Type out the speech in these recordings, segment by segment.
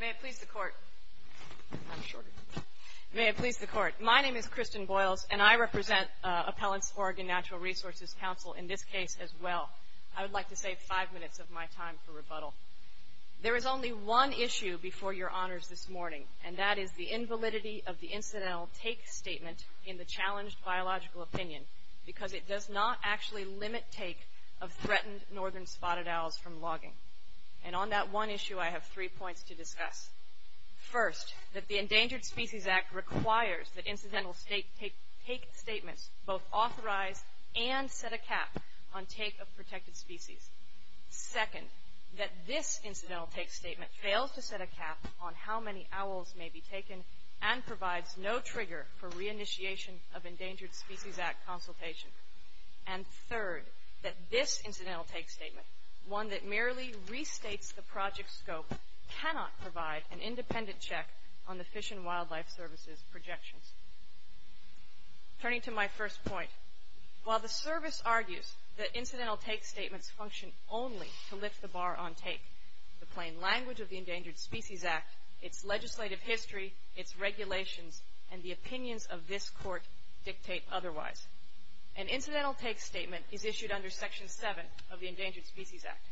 May it please the court. I'm short. May it please the court. My name is Kristen Boyles, and I represent Appellants Oregon Natural Resources Council in this case as well. I would like to save five minutes of my time for rebuttal. There is only one issue before your honors this morning, and that is the invalidity of the incidental take statement in the challenged biological opinion, because it does not actually limit take of threatened northern spotted owls from logging. And on that one issue, I have three points to discuss. First, that the Endangered Species Act requires that incidental take statements both authorize and set a cap on take of protected species. Second, that this incidental take statement fails to set a cap on how many owls may be taken and provides no trigger for reinitiation of Endangered Species Act consultation. And third, that this incidental take statement, one that merely restates the project scope, cannot provide an independent check on the Fish and Wildlife Service's projections. Turning to my first point, while the service argues that incidental take statements function only to lift the bar on take, the plain language of the Endangered Species Act, its legislative history, its regulations, and the opinions of this court dictate otherwise. An incidental take statement is issued under Section 7 of the Endangered Species Act.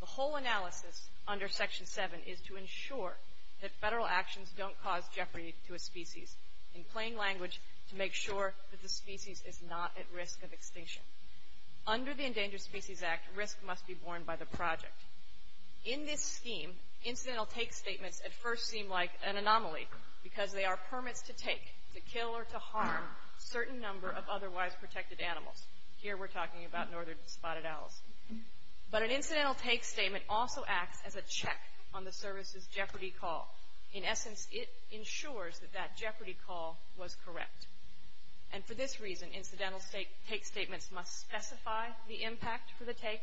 The whole analysis under Section 7 is to ensure that federal actions don't cause jeopardy to a species, in plain language, to make sure that the species is not at risk of extinction. Under the Endangered Species Act, risk must be borne by the project. In this scheme, incidental take statements at first seem like an anomaly, because they are permits to take, to kill, or to harm a certain number of otherwise protected animals. Here we're talking about northern spotted owls. But an incidental take statement also acts as a check on the service's jeopardy call. In essence, it ensures that that jeopardy call was correct. And for this reason, incidental take statements must specify the impact for the take,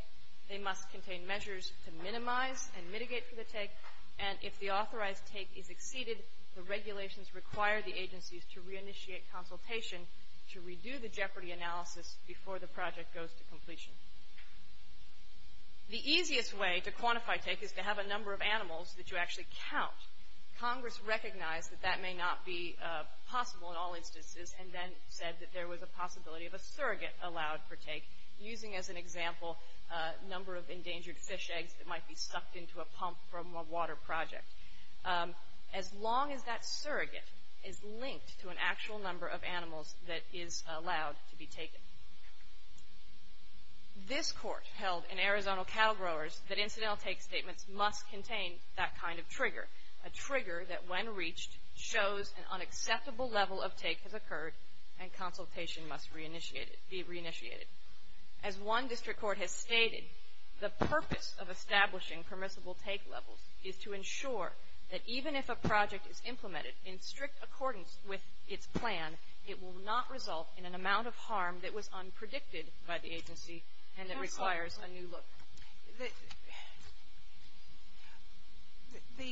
they must contain measures to minimize and mitigate for the take, and if the authorized take is exceeded, the regulations require the agencies to reinitiate consultation to redo the jeopardy analysis before the project goes to completion. The easiest way to quantify take is to have a number of animals that you actually count. Congress recognized that that may not be possible in all instances, and then said that there was a possibility of a surrogate allowed for take, using as an example a number of endangered fish eggs that might be sucked into a pump from a water project. As long as that surrogate is linked to an actual number of animals that is allowed to be taken. This court held in Arizona Cattle Growers that incidental take statements must contain that kind of trigger, a trigger that when reached shows an unacceptable level of take has occurred and consultation must be reinitiated. As one district court has stated, the purpose of establishing permissible take levels is to ensure that even if a project is implemented in strict accordance with its plan, it will not result in an amount of harm that was unpredicted by the agency and that requires a new look. The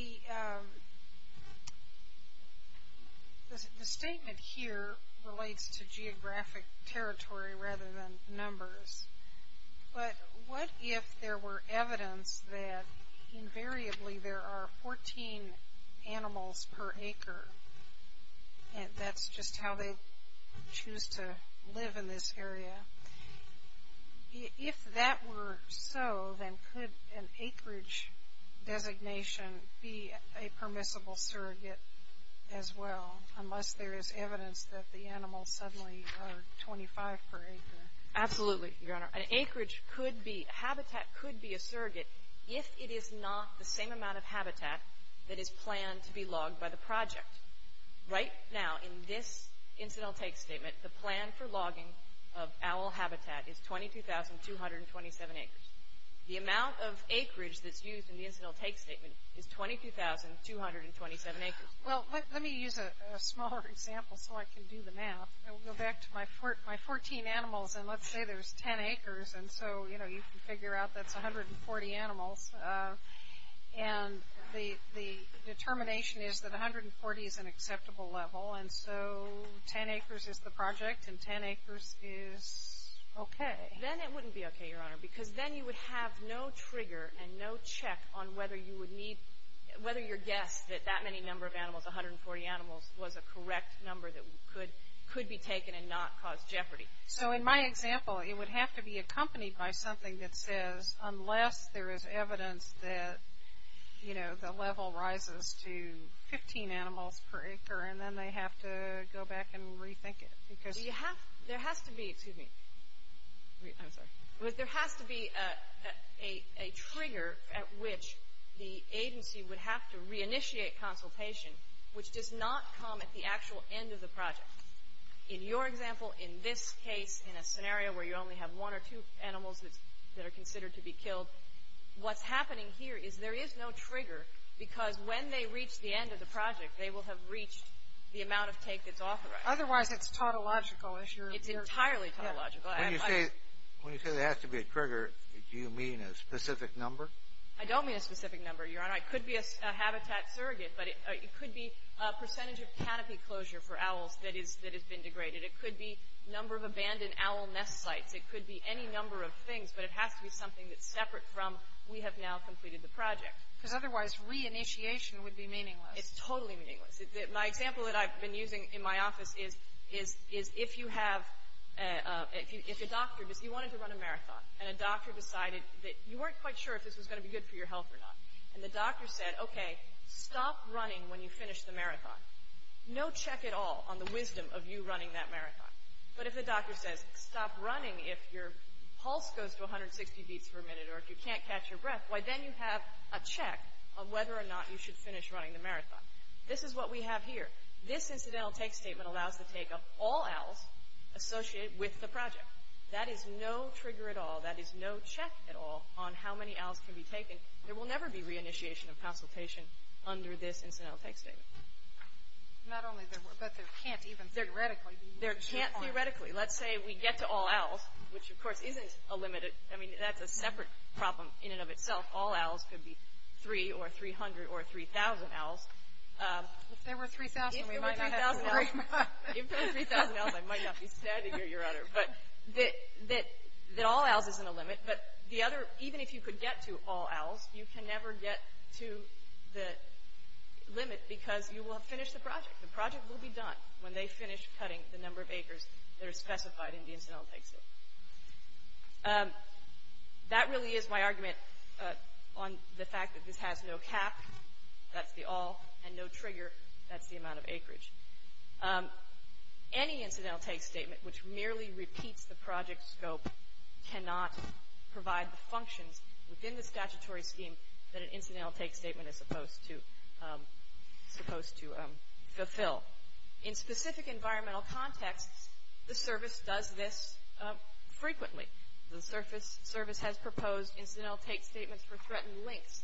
statement here relates to geographic territory rather than numbers, but what if there were evidence that invariably there are 14 animals per acre, and that's just how they choose to live in this area. If that were so, then could an acreage designation be a permissible surrogate as well, unless there is evidence that the animals suddenly are 25 per acre? Absolutely, Your Honor. An acreage could be, a habitat could be a surrogate if it is not the same amount of habitat that is planned to be logged by the project. Right now, in this incidental take statement, the plan for logging of owl habitat is 22,227 acres. The amount of acreage that's used in the incidental take statement is 22,227 acres. Well, let me use a smaller example so I can do the math. I'll go back to my 14 animals, and let's say there's 10 acres, and so you can figure out that's 140 animals, and the determination is that 140 is an acceptable level, and so 10 acres is the project, and 10 acres is okay. Then it wouldn't be okay, Your Honor, because then you would have no trigger and no check on whether you would need, whether your guess that that many number of animals, 140 animals, was a correct number that could be taken and not cause jeopardy. So in my example, it would have to be accompanied by something that says, unless there is evidence that, you know, the level rises to 15 animals per acre, and then they have to go back and rethink it. There has to be a trigger at which the agency would have to reinitiate consultation, which does not come at the actual end of the project. In your example, in this case, in a scenario where you only have one or two animals that are considered to be killed, what's happening here is there is no trigger because when they reach the end of the project, they will have reached the amount of take that's authorized. Otherwise, it's a tautological issue. It's entirely tautological. When you say there has to be a trigger, do you mean a specific number? I don't mean a specific number, Your Honor. It could be a habitat surrogate, but it could be a percentage of canopy closure for owls that has been degraded. It could be number of abandoned owl nest sites. It could be any number of things, but it has to be something that's separate from, we have now completed the project. Because otherwise, re-initiation would be meaningless. It's totally meaningless. My example that I've been using in my office is if you have, if a doctor, if you wanted to run a marathon and a doctor decided that you weren't quite sure if this was going to be good for your health or not, and the doctor said, okay, stop running when you finish the marathon, no check at all on the wisdom of you running that marathon. But if the doctor says, stop running if your pulse goes to 160 beats per minute or if you can't catch your breath, then you have a check on whether or not you should finish running the marathon. This is what we have here. This incidental take statement allows the take of all owls associated with the project. That is no trigger at all. That is no check at all on how many owls can be taken. There will never be re-initiation of consultation under this incidental take statement. Not only there were, but there can't even theoretically be. There can't theoretically. Let's say we get to all owls, which, of course, isn't a limit. I mean, that's a separate problem in and of itself. All owls could be 3 or 300 or 3,000 owls. If there were 3,000, we might not have to worry about that. If there were 3,000 owls, I might not be standing here, Your Honor. But that all owls isn't a limit. But the other, even if you could get to all owls, you can never get to the limit because you will have finished the project. The project will be done when they finish cutting the number of acres that are specified in the incidental take statement. That really is my argument on the fact that this has no cap. That's the all and no trigger. That's the amount of acreage. Any incidental take statement, which merely repeats the project scope, cannot provide the functions within the statutory scheme that an incidental take statement is supposed to fulfill. In specific environmental contexts, the service does this frequently. The service has proposed incidental take statements for threatened links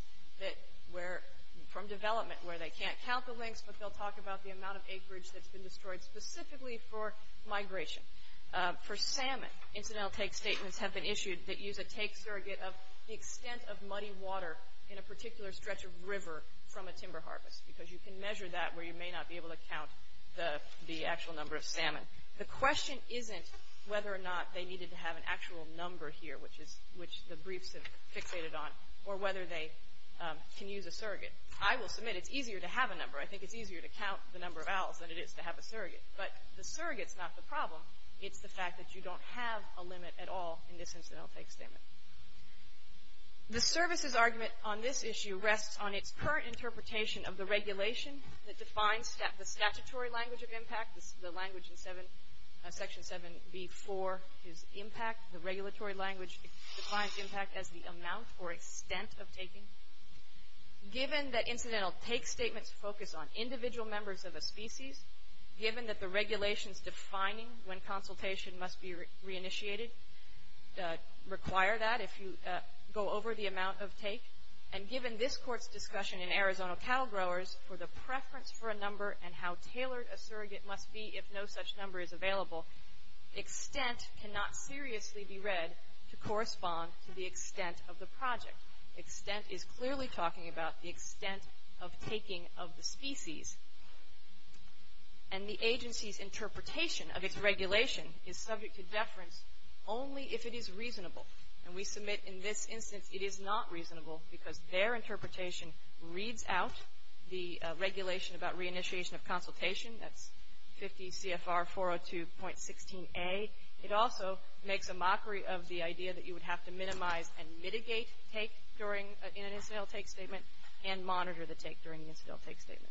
from development where they can't count the links, but they'll talk about the amount of acreage that's been destroyed specifically for migration. For salmon, incidental take statements have been issued that use a take surrogate of the extent of muddy water in a particular stretch of river from a timber harvest because you can measure that where you may not be able to count the actual number of salmon. The question isn't whether or not they needed to have an actual number here, which the briefs have fixated on, or whether they can use a surrogate. I will submit it's easier to have a number. I think it's easier to count the number of owls than it is to have a surrogate. But the surrogate's not the problem. It's the fact that you don't have a limit at all in this incidental take statement. The service's argument on this issue rests on its current interpretation of the regulation that defines the statutory language of impact. The language in Section 7b-4 is impact. The regulatory language defines impact as the amount or extent of taking. Given that incidental take statements focus on individual members of a species, given that the regulations defining when consultation must be reinitiated require that, if you go over the amount of take, and given this Court's discussion in Arizona Cattle Growers for the preference for a number and how tailored a surrogate must be if no such number is available, extent cannot seriously be read to correspond to the extent of the project. Extent is clearly talking about the extent of taking of the species. And the agency's interpretation of its regulation is subject to deference only if it is reasonable. And we submit in this instance it is not reasonable because their interpretation reads out the regulation about reinitiation of consultation. That's 50 CFR 402.16a. It also makes a mockery of the idea that you would have to minimize and mitigate take during an incidental take statement and monitor the take during an incidental take statement.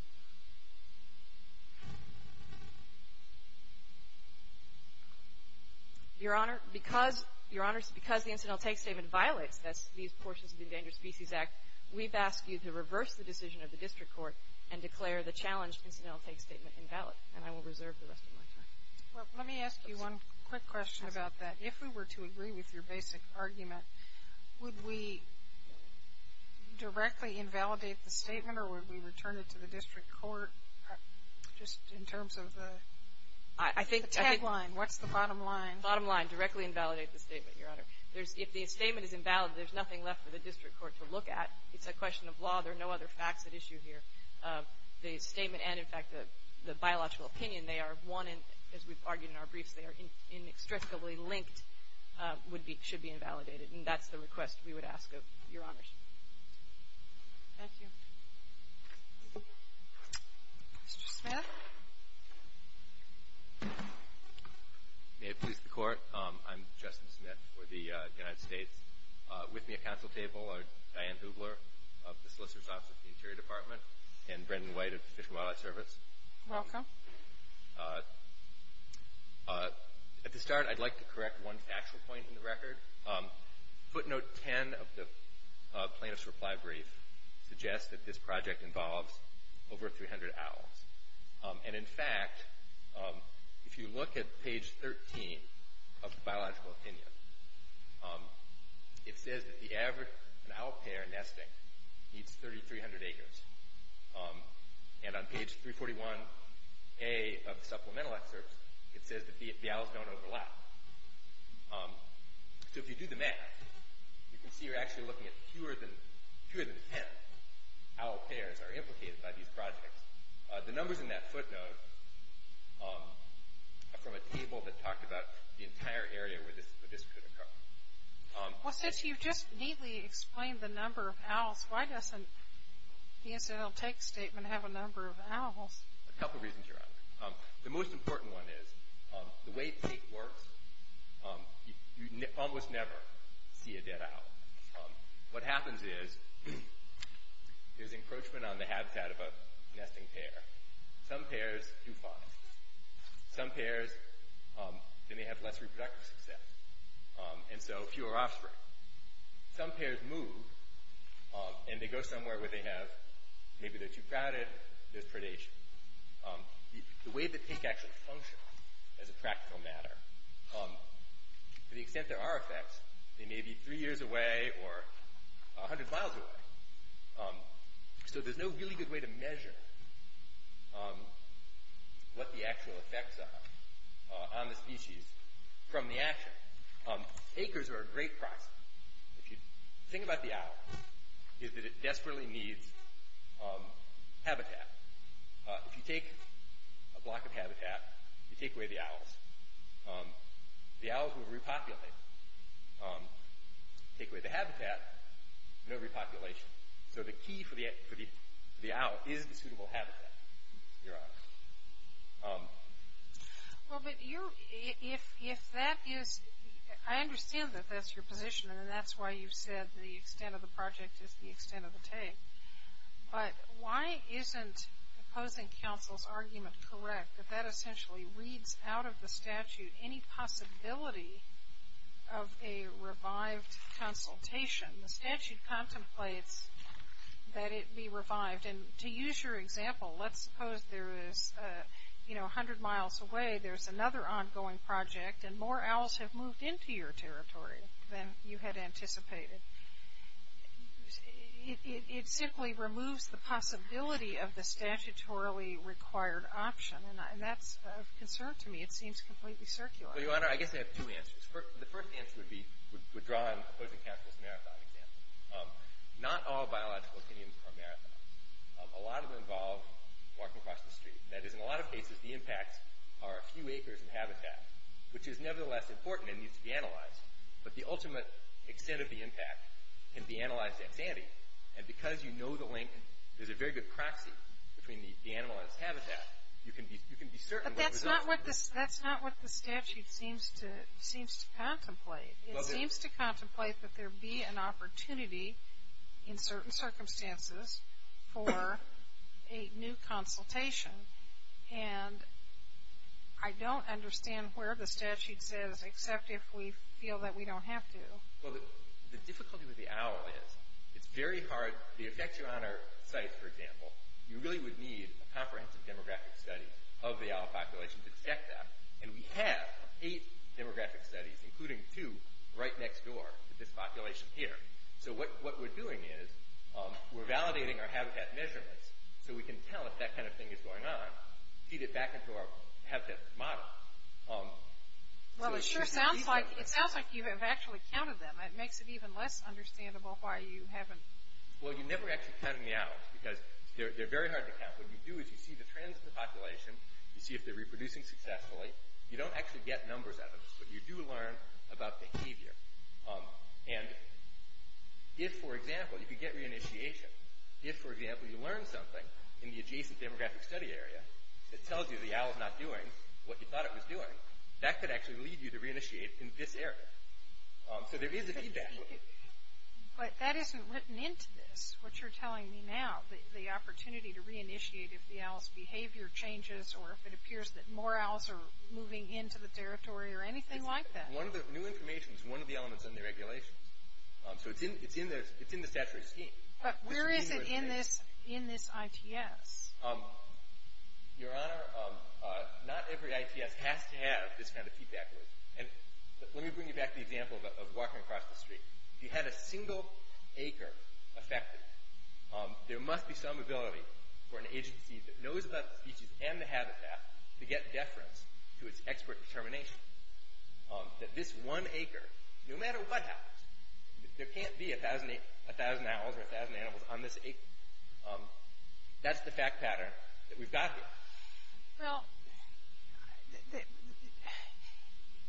Your Honor, because the incidental take statement violates these portions of the Endangered Species Act, we've asked you to reverse the decision of the district court and declare the challenged incidental take statement invalid. And I will reserve the rest of my time. Well, let me ask you one quick question about that. If we were to agree with your basic argument, would we directly invalidate the statement or would we return it to the district court just in terms of the tagline? What's the bottom line? Bottom line, directly invalidate the statement, Your Honor. If the statement is invalid, there's nothing left for the district court to look at. It's a question of law. There are no other facts at issue here. The statement and, in fact, the biological opinion, they are one, as we've argued in our briefs, they are inextricably linked, should be invalidated. And that's the request we would ask of Your Honors. Thank you. Mr. Smith? May it please the Court, I'm Justin Smith for the United States. With me at counsel table are Diane Hubler of the Solicitor's Office of the Interior Department and Brendan White of the Fish and Wildlife Service. Welcome. At the start, I'd like to correct one factual point in the record. Footnote 10 of the plaintiff's reply brief suggests that this project involves over 300 owls. And, in fact, if you look at page 13 of the biological opinion, it says that the average owl pair nesting needs 3,300 acres. And on page 341A of the supplemental excerpts, it says that the owls don't overlap. So if you do the math, you can see you're actually looking at fewer than 10 owl pairs are implicated by these projects. The numbers in that footnote are from a table that talked about the entire area where this could occur. Well, since you've just neatly explained the number of owls, why doesn't the SOTX statement have a number of owls? A couple reasons, Your Honor. The most important one is the way it works, you almost never see a dead owl. What happens is, there's encroachment on the habitat of a nesting pair. Some pairs do fine. Some pairs, they may have less reproductive success, and so fewer offspring. Some pairs move, and they go somewhere where they have, maybe they're too crowded, there's predation. The way that things actually function as a practical matter, to the extent there are effects, they may be three years away or 100 miles away. So there's no really good way to measure what the actual effects are on the species from the action. Acres are a great prospect. The thing about the owl is that it desperately needs habitat. If you take a block of habitat, you take away the owls, the owls will repopulate. Take away the habitat, no repopulation. So the key for the owl is the suitable habitat, Your Honor. Well, but you're, if that is, I understand that that's your position, and that's why you said the extent of the project is the extent of the take. But why isn't opposing counsel's argument correct, that that essentially weeds out of the statute any possibility of a revived consultation? The statute contemplates that it be revived. And to use your example, let's suppose there is, you know, 100 miles away, there's another ongoing project, and more owls have moved into your territory than you had anticipated. It simply removes the possibility of the statutorily required option. And that's of concern to me. It seems completely circular. Well, Your Honor, I guess I have two answers. The first answer would be withdrawing opposing counsel's marathon example. Not all biological opinions are marathons. A lot of them involve walking across the street. That is, in a lot of cases, the impacts are a few acres of habitat, which is nevertheless important and needs to be analyzed. But the ultimate extent of the impact can be analyzed in sanity. But that's not what the statute seems to contemplate. It seems to contemplate that there be an opportunity in certain circumstances for a new consultation. And I don't understand where the statute says, except if we feel that we don't have to. Well, the difficulty with the owl is, it's very hard. The effects are on our sites, for example. You really would need a comprehensive demographic study of the owl population to check that. And we have eight demographic studies, including two right next door to this population here. So what we're doing is we're validating our habitat measurements so we can tell if that kind of thing is going on, feed it back into our habitat model. Well, it sure sounds like you have actually counted them. It makes it even less understandable why you haven't. Well, you're never actually counting the owls, because they're very hard to count. What you do is you see the trends in the population, you see if they're reproducing successfully. You don't actually get numbers out of this, but you do learn about behavior. And if, for example, you could get re-initiation, if, for example, you learn something in the adjacent demographic study area that tells you the owl is not doing what you thought it was doing, that could actually lead you to re-initiate in this area. So there is a feedback loop. But that isn't written into this, what you're telling me now, the opportunity to re-initiate if the owl's behavior changes or if it appears that more owls are moving into the territory or anything like that. One of the new information is one of the elements in the regulations. So it's in the statutory scheme. But where is it in this ITS? Your Honor, not every ITS has to have this kind of feedback loop. And let me bring you back to the example of walking across the street. If you had a single acre affected, there must be some ability for an agency that knows about the species and the habitat to get deference to its expert determination that this one acre, no matter what happens, there can't be a thousand owls or a thousand animals on this acre. That's the fact pattern that we've got here. Well,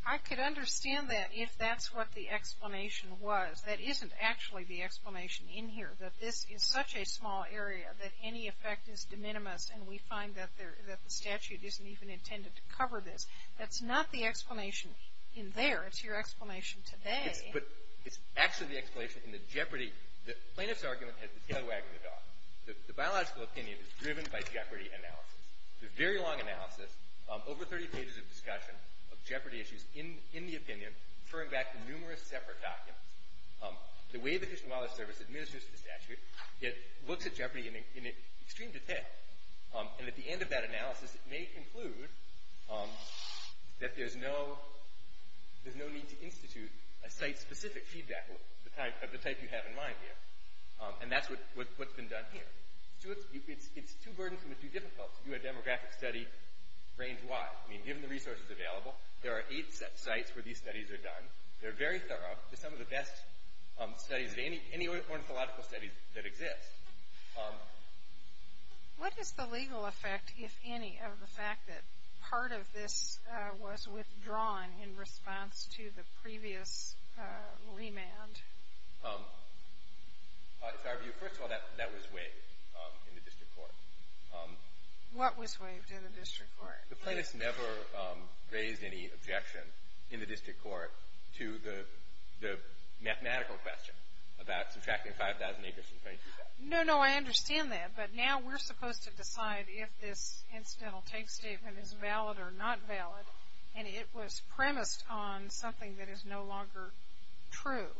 I could understand that if that's what the explanation was. That isn't actually the explanation in here, that this is such a small area that any effect is de minimis and we find that the statute isn't even intended to cover this. That's not the explanation in there. It's your explanation today. It's actually the explanation in the Jeopardy. The plaintiff's argument has the tail wagging the dog. The biological opinion is driven by Jeopardy analysis. It's a very long analysis, over 30 pages of discussion of Jeopardy issues in the opinion, referring back to numerous separate documents. The way the Fish and Wildlife Service administers the statute, it looks at Jeopardy in an extreme detail, and at the end of that analysis it may conclude that there's no need to institute a site-specific feedback loop of the type you have in mind here. And that's what's been done here. It's too burdensome and too difficult to do a demographic study range-wide. I mean, given the resources available, there are eight sites where these studies are done. They're very thorough. They're some of the best studies of any ornithological studies that exist. What is the legal effect, if any, of the fact that part of this was withdrawn in response to the previous remand? In our view, first of all, that was waived in the district court. What was waived in the district court? The plaintiffs never raised any objection in the district court to the mathematical question about subtracting 5,000 acres from 22,000. No, no, I understand that, but now we're supposed to decide if this incidental take statement is valid or not valid, and it was premised on something that is no longer true.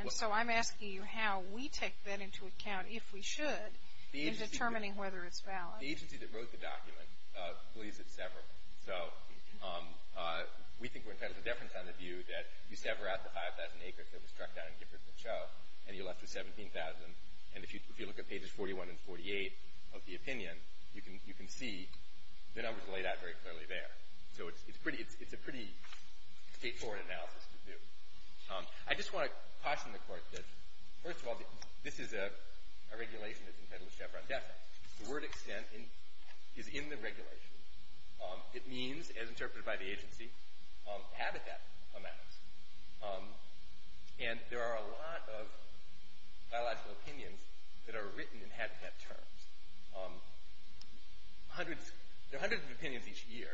And so I'm asking you how we take that into account, if we should, in determining whether it's valid. The agency that wrote the document believes it's severable. So we think we're entitled to a deference on the view that you sever out the 5,000 acres that was struck down in Giffords and Cho, and you're left with 17,000. And if you look at pages 41 and 48 of the opinion, you can see the numbers laid out very clearly there. So it's a pretty straightforward analysis to do. I just want to caution the court that, first of all, this is a regulation that's entitled to chevron deficit. The word extent is in the regulation. It means, as interpreted by the agency, habitat amounts. And there are a lot of biological opinions that are written in habitat terms. There are hundreds of opinions each year,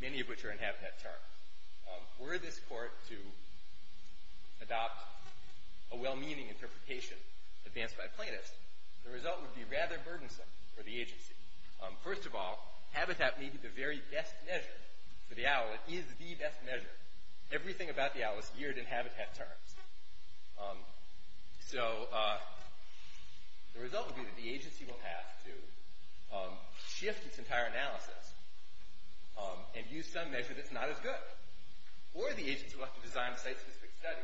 many of which are in habitat terms. Were this court to adopt a well-meaning interpretation advanced by plaintiffs, the result would be rather burdensome for the agency. First of all, habitat may be the very best measure for the owl. It is the best measure. Everything about the owl is geared in habitat terms. So the result would be that the agency will have to shift its entire analysis and use some measure that's not as good. Or the agency will have to design a site-specific study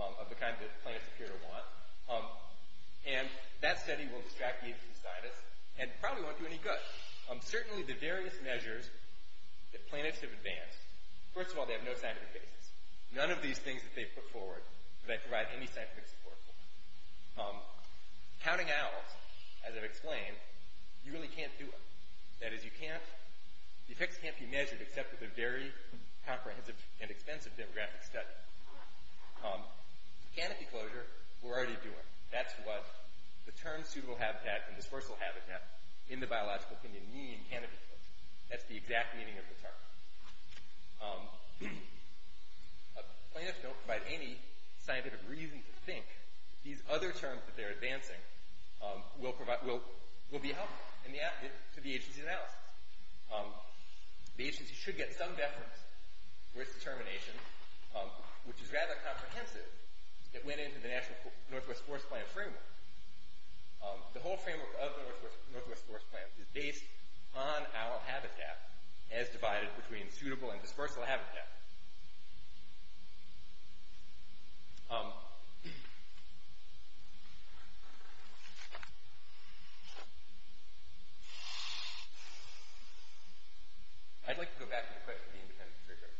of the kind that plaintiffs appear to want, and that study will distract the agency scientists and probably won't do any good. Certainly the various measures that plaintiffs have advanced, first of all, they have no scientific basis. None of these things that they've put forward, that they provide any scientific support for. Counting owls, as I've explained, you really can't do it. That is, the effects can't be measured except with a very comprehensive and expensive demographic study. Canopy closure, we're already doing. That's what the terms suitable habitat and dispersal habitat in the biological opinion mean, canopy closure. That's the exact meaning of the term. Plaintiffs don't provide any scientific reason to think that these other terms that they're advancing will be helpful to the agency's analysis. The agency should get some deference for its determination, which is rather comprehensive, that went into the National Northwest Forest Plan framework. The whole framework of the Northwest Forest Plan is based on owl habitat as divided between suitable and dispersal habitat. Um... I'd like to go back to the question of the independent figure.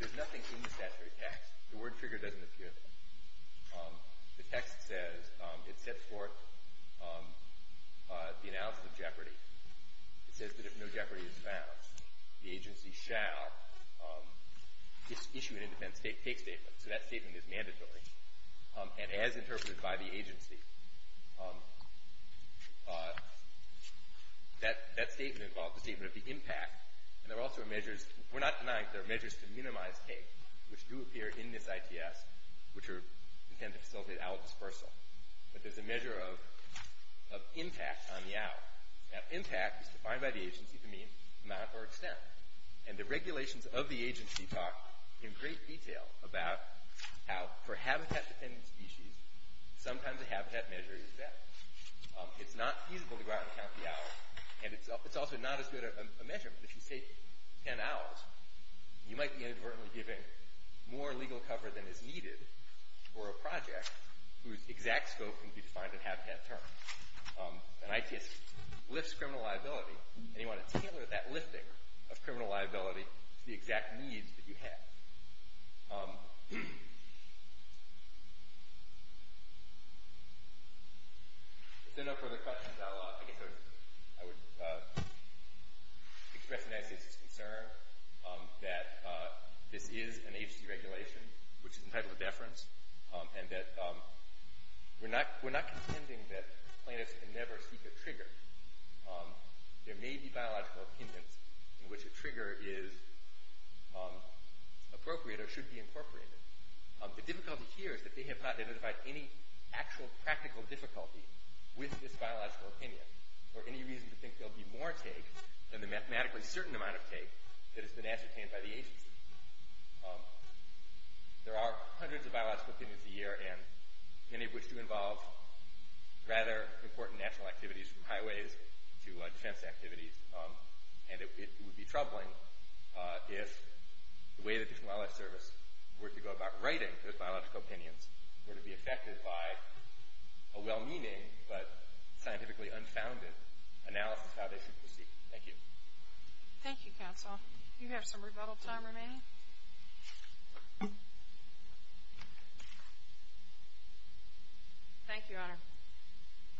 There's nothing in the statutory text. The word figure doesn't appear there. The text says, it sets forth the analysis of jeopardy. It says that if no jeopardy is found, the agency shall issue an independent take statement. So that statement is mandatory, and as interpreted by the agency. That statement involves the statement of the impact, and there are also measures, we're not denying, there are measures to minimize take, which do appear in this ITS, which are intended to facilitate owl dispersal. But there's a measure of impact on the owl. Now, impact is defined by the agency to mean amount or extent. And the regulations of the agency talk in great detail about how, for habitat-dependent species, sometimes a habitat measure is better. It's not feasible to go out and count the owls, and it's also not as good a measurement. If you take ten owls, you might be inadvertently giving more legal cover than is needed for a project whose exact scope can be defined in habitat terms. An ITS lifts criminal liability, and you want to tailor that lifting of criminal liability to the exact needs that you have. If there are no further questions, I guess I would express an agency's concern that this is an agency regulation, which is entitled to deference, and that we're not contending that planets can never seek a trigger. There may be biological opinions in which a trigger is appropriate or should be incorporated. The difficulty here is that they have not identified any actual practical difficulty with this biological opinion or any reason to think there'll be more take than the mathematically certain amount of take that has been ascertained by the agency. There are hundreds of biological opinions a year and many of which do involve rather important national activities, from highways to defense activities, and it would be troubling if the way that this wildlife service were to go about writing those biological opinions were to be affected by a well-meaning but scientifically unfounded analysis of how they should proceed. Thank you. Thank you, Counsel. You have some rebuttal time remaining. Thank you, Honor.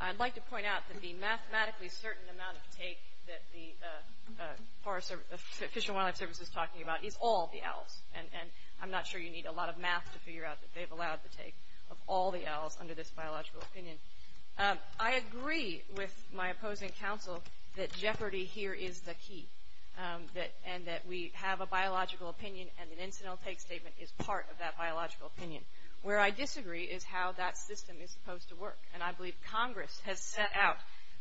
I'd like to point out that the mathematically certain amount of take that the Fish and Wildlife Service is talking about is all the owls, and I'm not sure you need a lot of math to figure out that they've allowed the take of all the owls under this biological opinion. I agree with my opposing counsel that jeopardy here is the key, and that we have a biological opinion and an incidental take statement is part of that biological opinion. Where I disagree is how that system is supposed to work, and I believe Congress has set out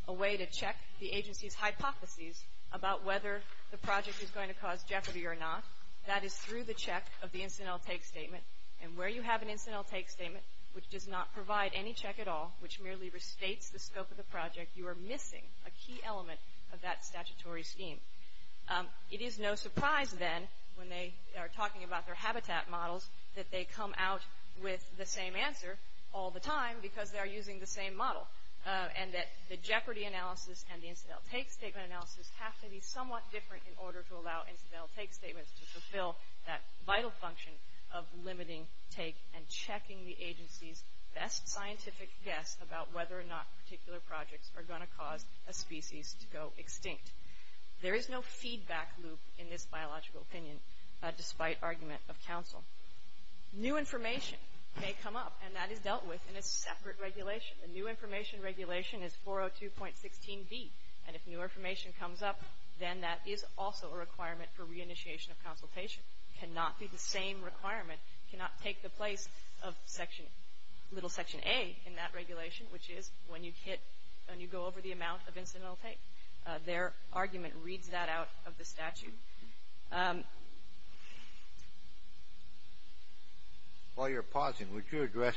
a way to check the agency's hypotheses about whether the project is going to cause jeopardy or not. That is through the check of the incidental take statement, and where you have an incidental take statement which does not provide any check at all, which merely restates the scope of the project, you are missing a key element of that statutory scheme. It is no surprise then, when they are talking about their habitat models, that they come out with the same answer all the time because they are using the same model, and that the jeopardy analysis and the incidental take statement analysis have to be somewhat different in order to allow incidental take statements to fulfill that vital function of limiting take and checking the agency's best scientific guess about whether or not particular projects are going to cause a species to go extinct. There is no feedback loop in this biological opinion despite argument of counsel. New information may come up, and that is dealt with in a separate regulation. The new information regulation is 402.16b, and if new information comes up, then that is also a requirement for reinitiation of consultation. It cannot be the same requirement. It cannot take the place of section, little section A in that regulation, which is when you hit, when you go over the amount of incidental take. Their argument reads that out of the statute. While you're pausing, would you address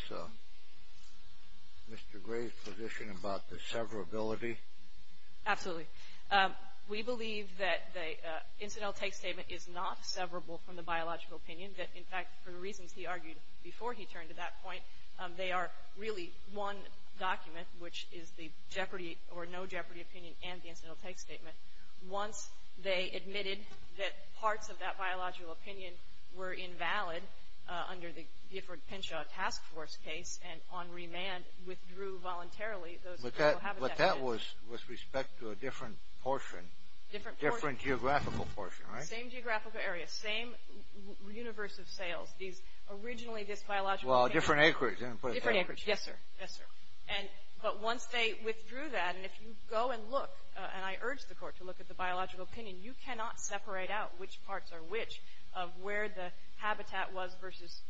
Mr. Gray's position about the severability? Absolutely. We believe that the incidental take statement is not severable from the biological opinion, that, in fact, for the reasons he argued before he turned to that point, they are really one document, which is the jeopardy or no jeopardy opinion and the incidental take statement. Once they admitted that parts of that biological opinion were invalid under the Gifford-Penshaw task force case and on remand withdrew voluntarily those critical habitats. But that was with respect to a different portion. Different portion. Different geographical portion, right? Same geographical area, same universe of sales. These, originally this biological opinion. Well, different acreage. Different acreage, yes, sir. Yes, sir. But once they withdrew that, and if you go and look, and I urge the court to look at the biological opinion, you cannot separate out which parts are which of where the habitat was versus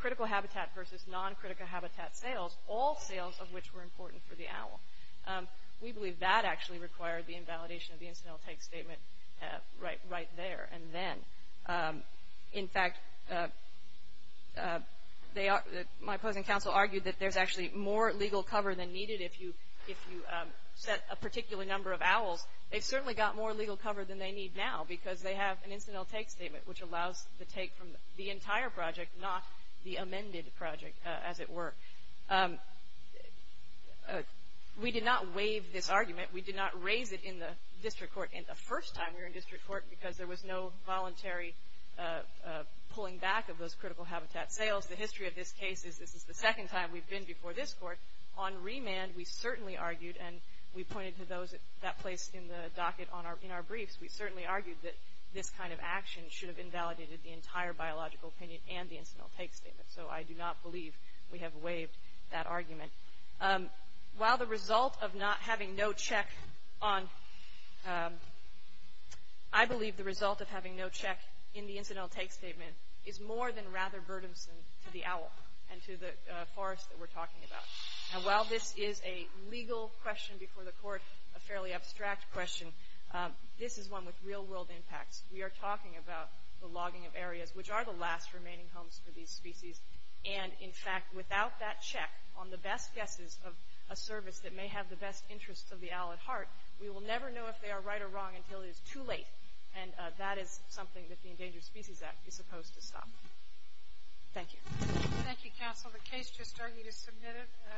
critical habitat versus non-critical habitat sales, all sales of which were important for the owl. We believe that actually required the invalidation of the incidental take statement right there and then. In fact, my opposing counsel argued that there's actually more legal cover than needed if you set a particular number of owls. They've certainly got more legal cover than they need now because they have an incidental take statement which allows the take from the entire project, not the amended project, as it were. We did not waive this argument. We did not raise it in the district court in the first time we were in district court because there was no voluntary pulling back of those critical habitat sales. The history of this case is this is the second time we've been before this court on remand, we certainly argued, and we pointed to that place in the docket in our briefs, we certainly argued that this kind of action should have invalidated the entire biological opinion and the incidental take statement. So I do not believe we have waived that argument. While the result of not having no check on, I believe the result of having no check in the incidental take statement is more than rather burdensome to the owl and to the forest that we're talking about. And while this is a legal question before the court, a fairly abstract question, this is one with real world impacts. We are talking about the logging of areas which are the last remaining homes for these species and in fact without that check on the best guesses of a service that may have the best interests of the owl at heart, we will never know if they are right or wrong until it is too late, and that is something that the Endangered Species Act is supposed to stop. Thank you. Thank you, counsel. The case just started. You need to submit it.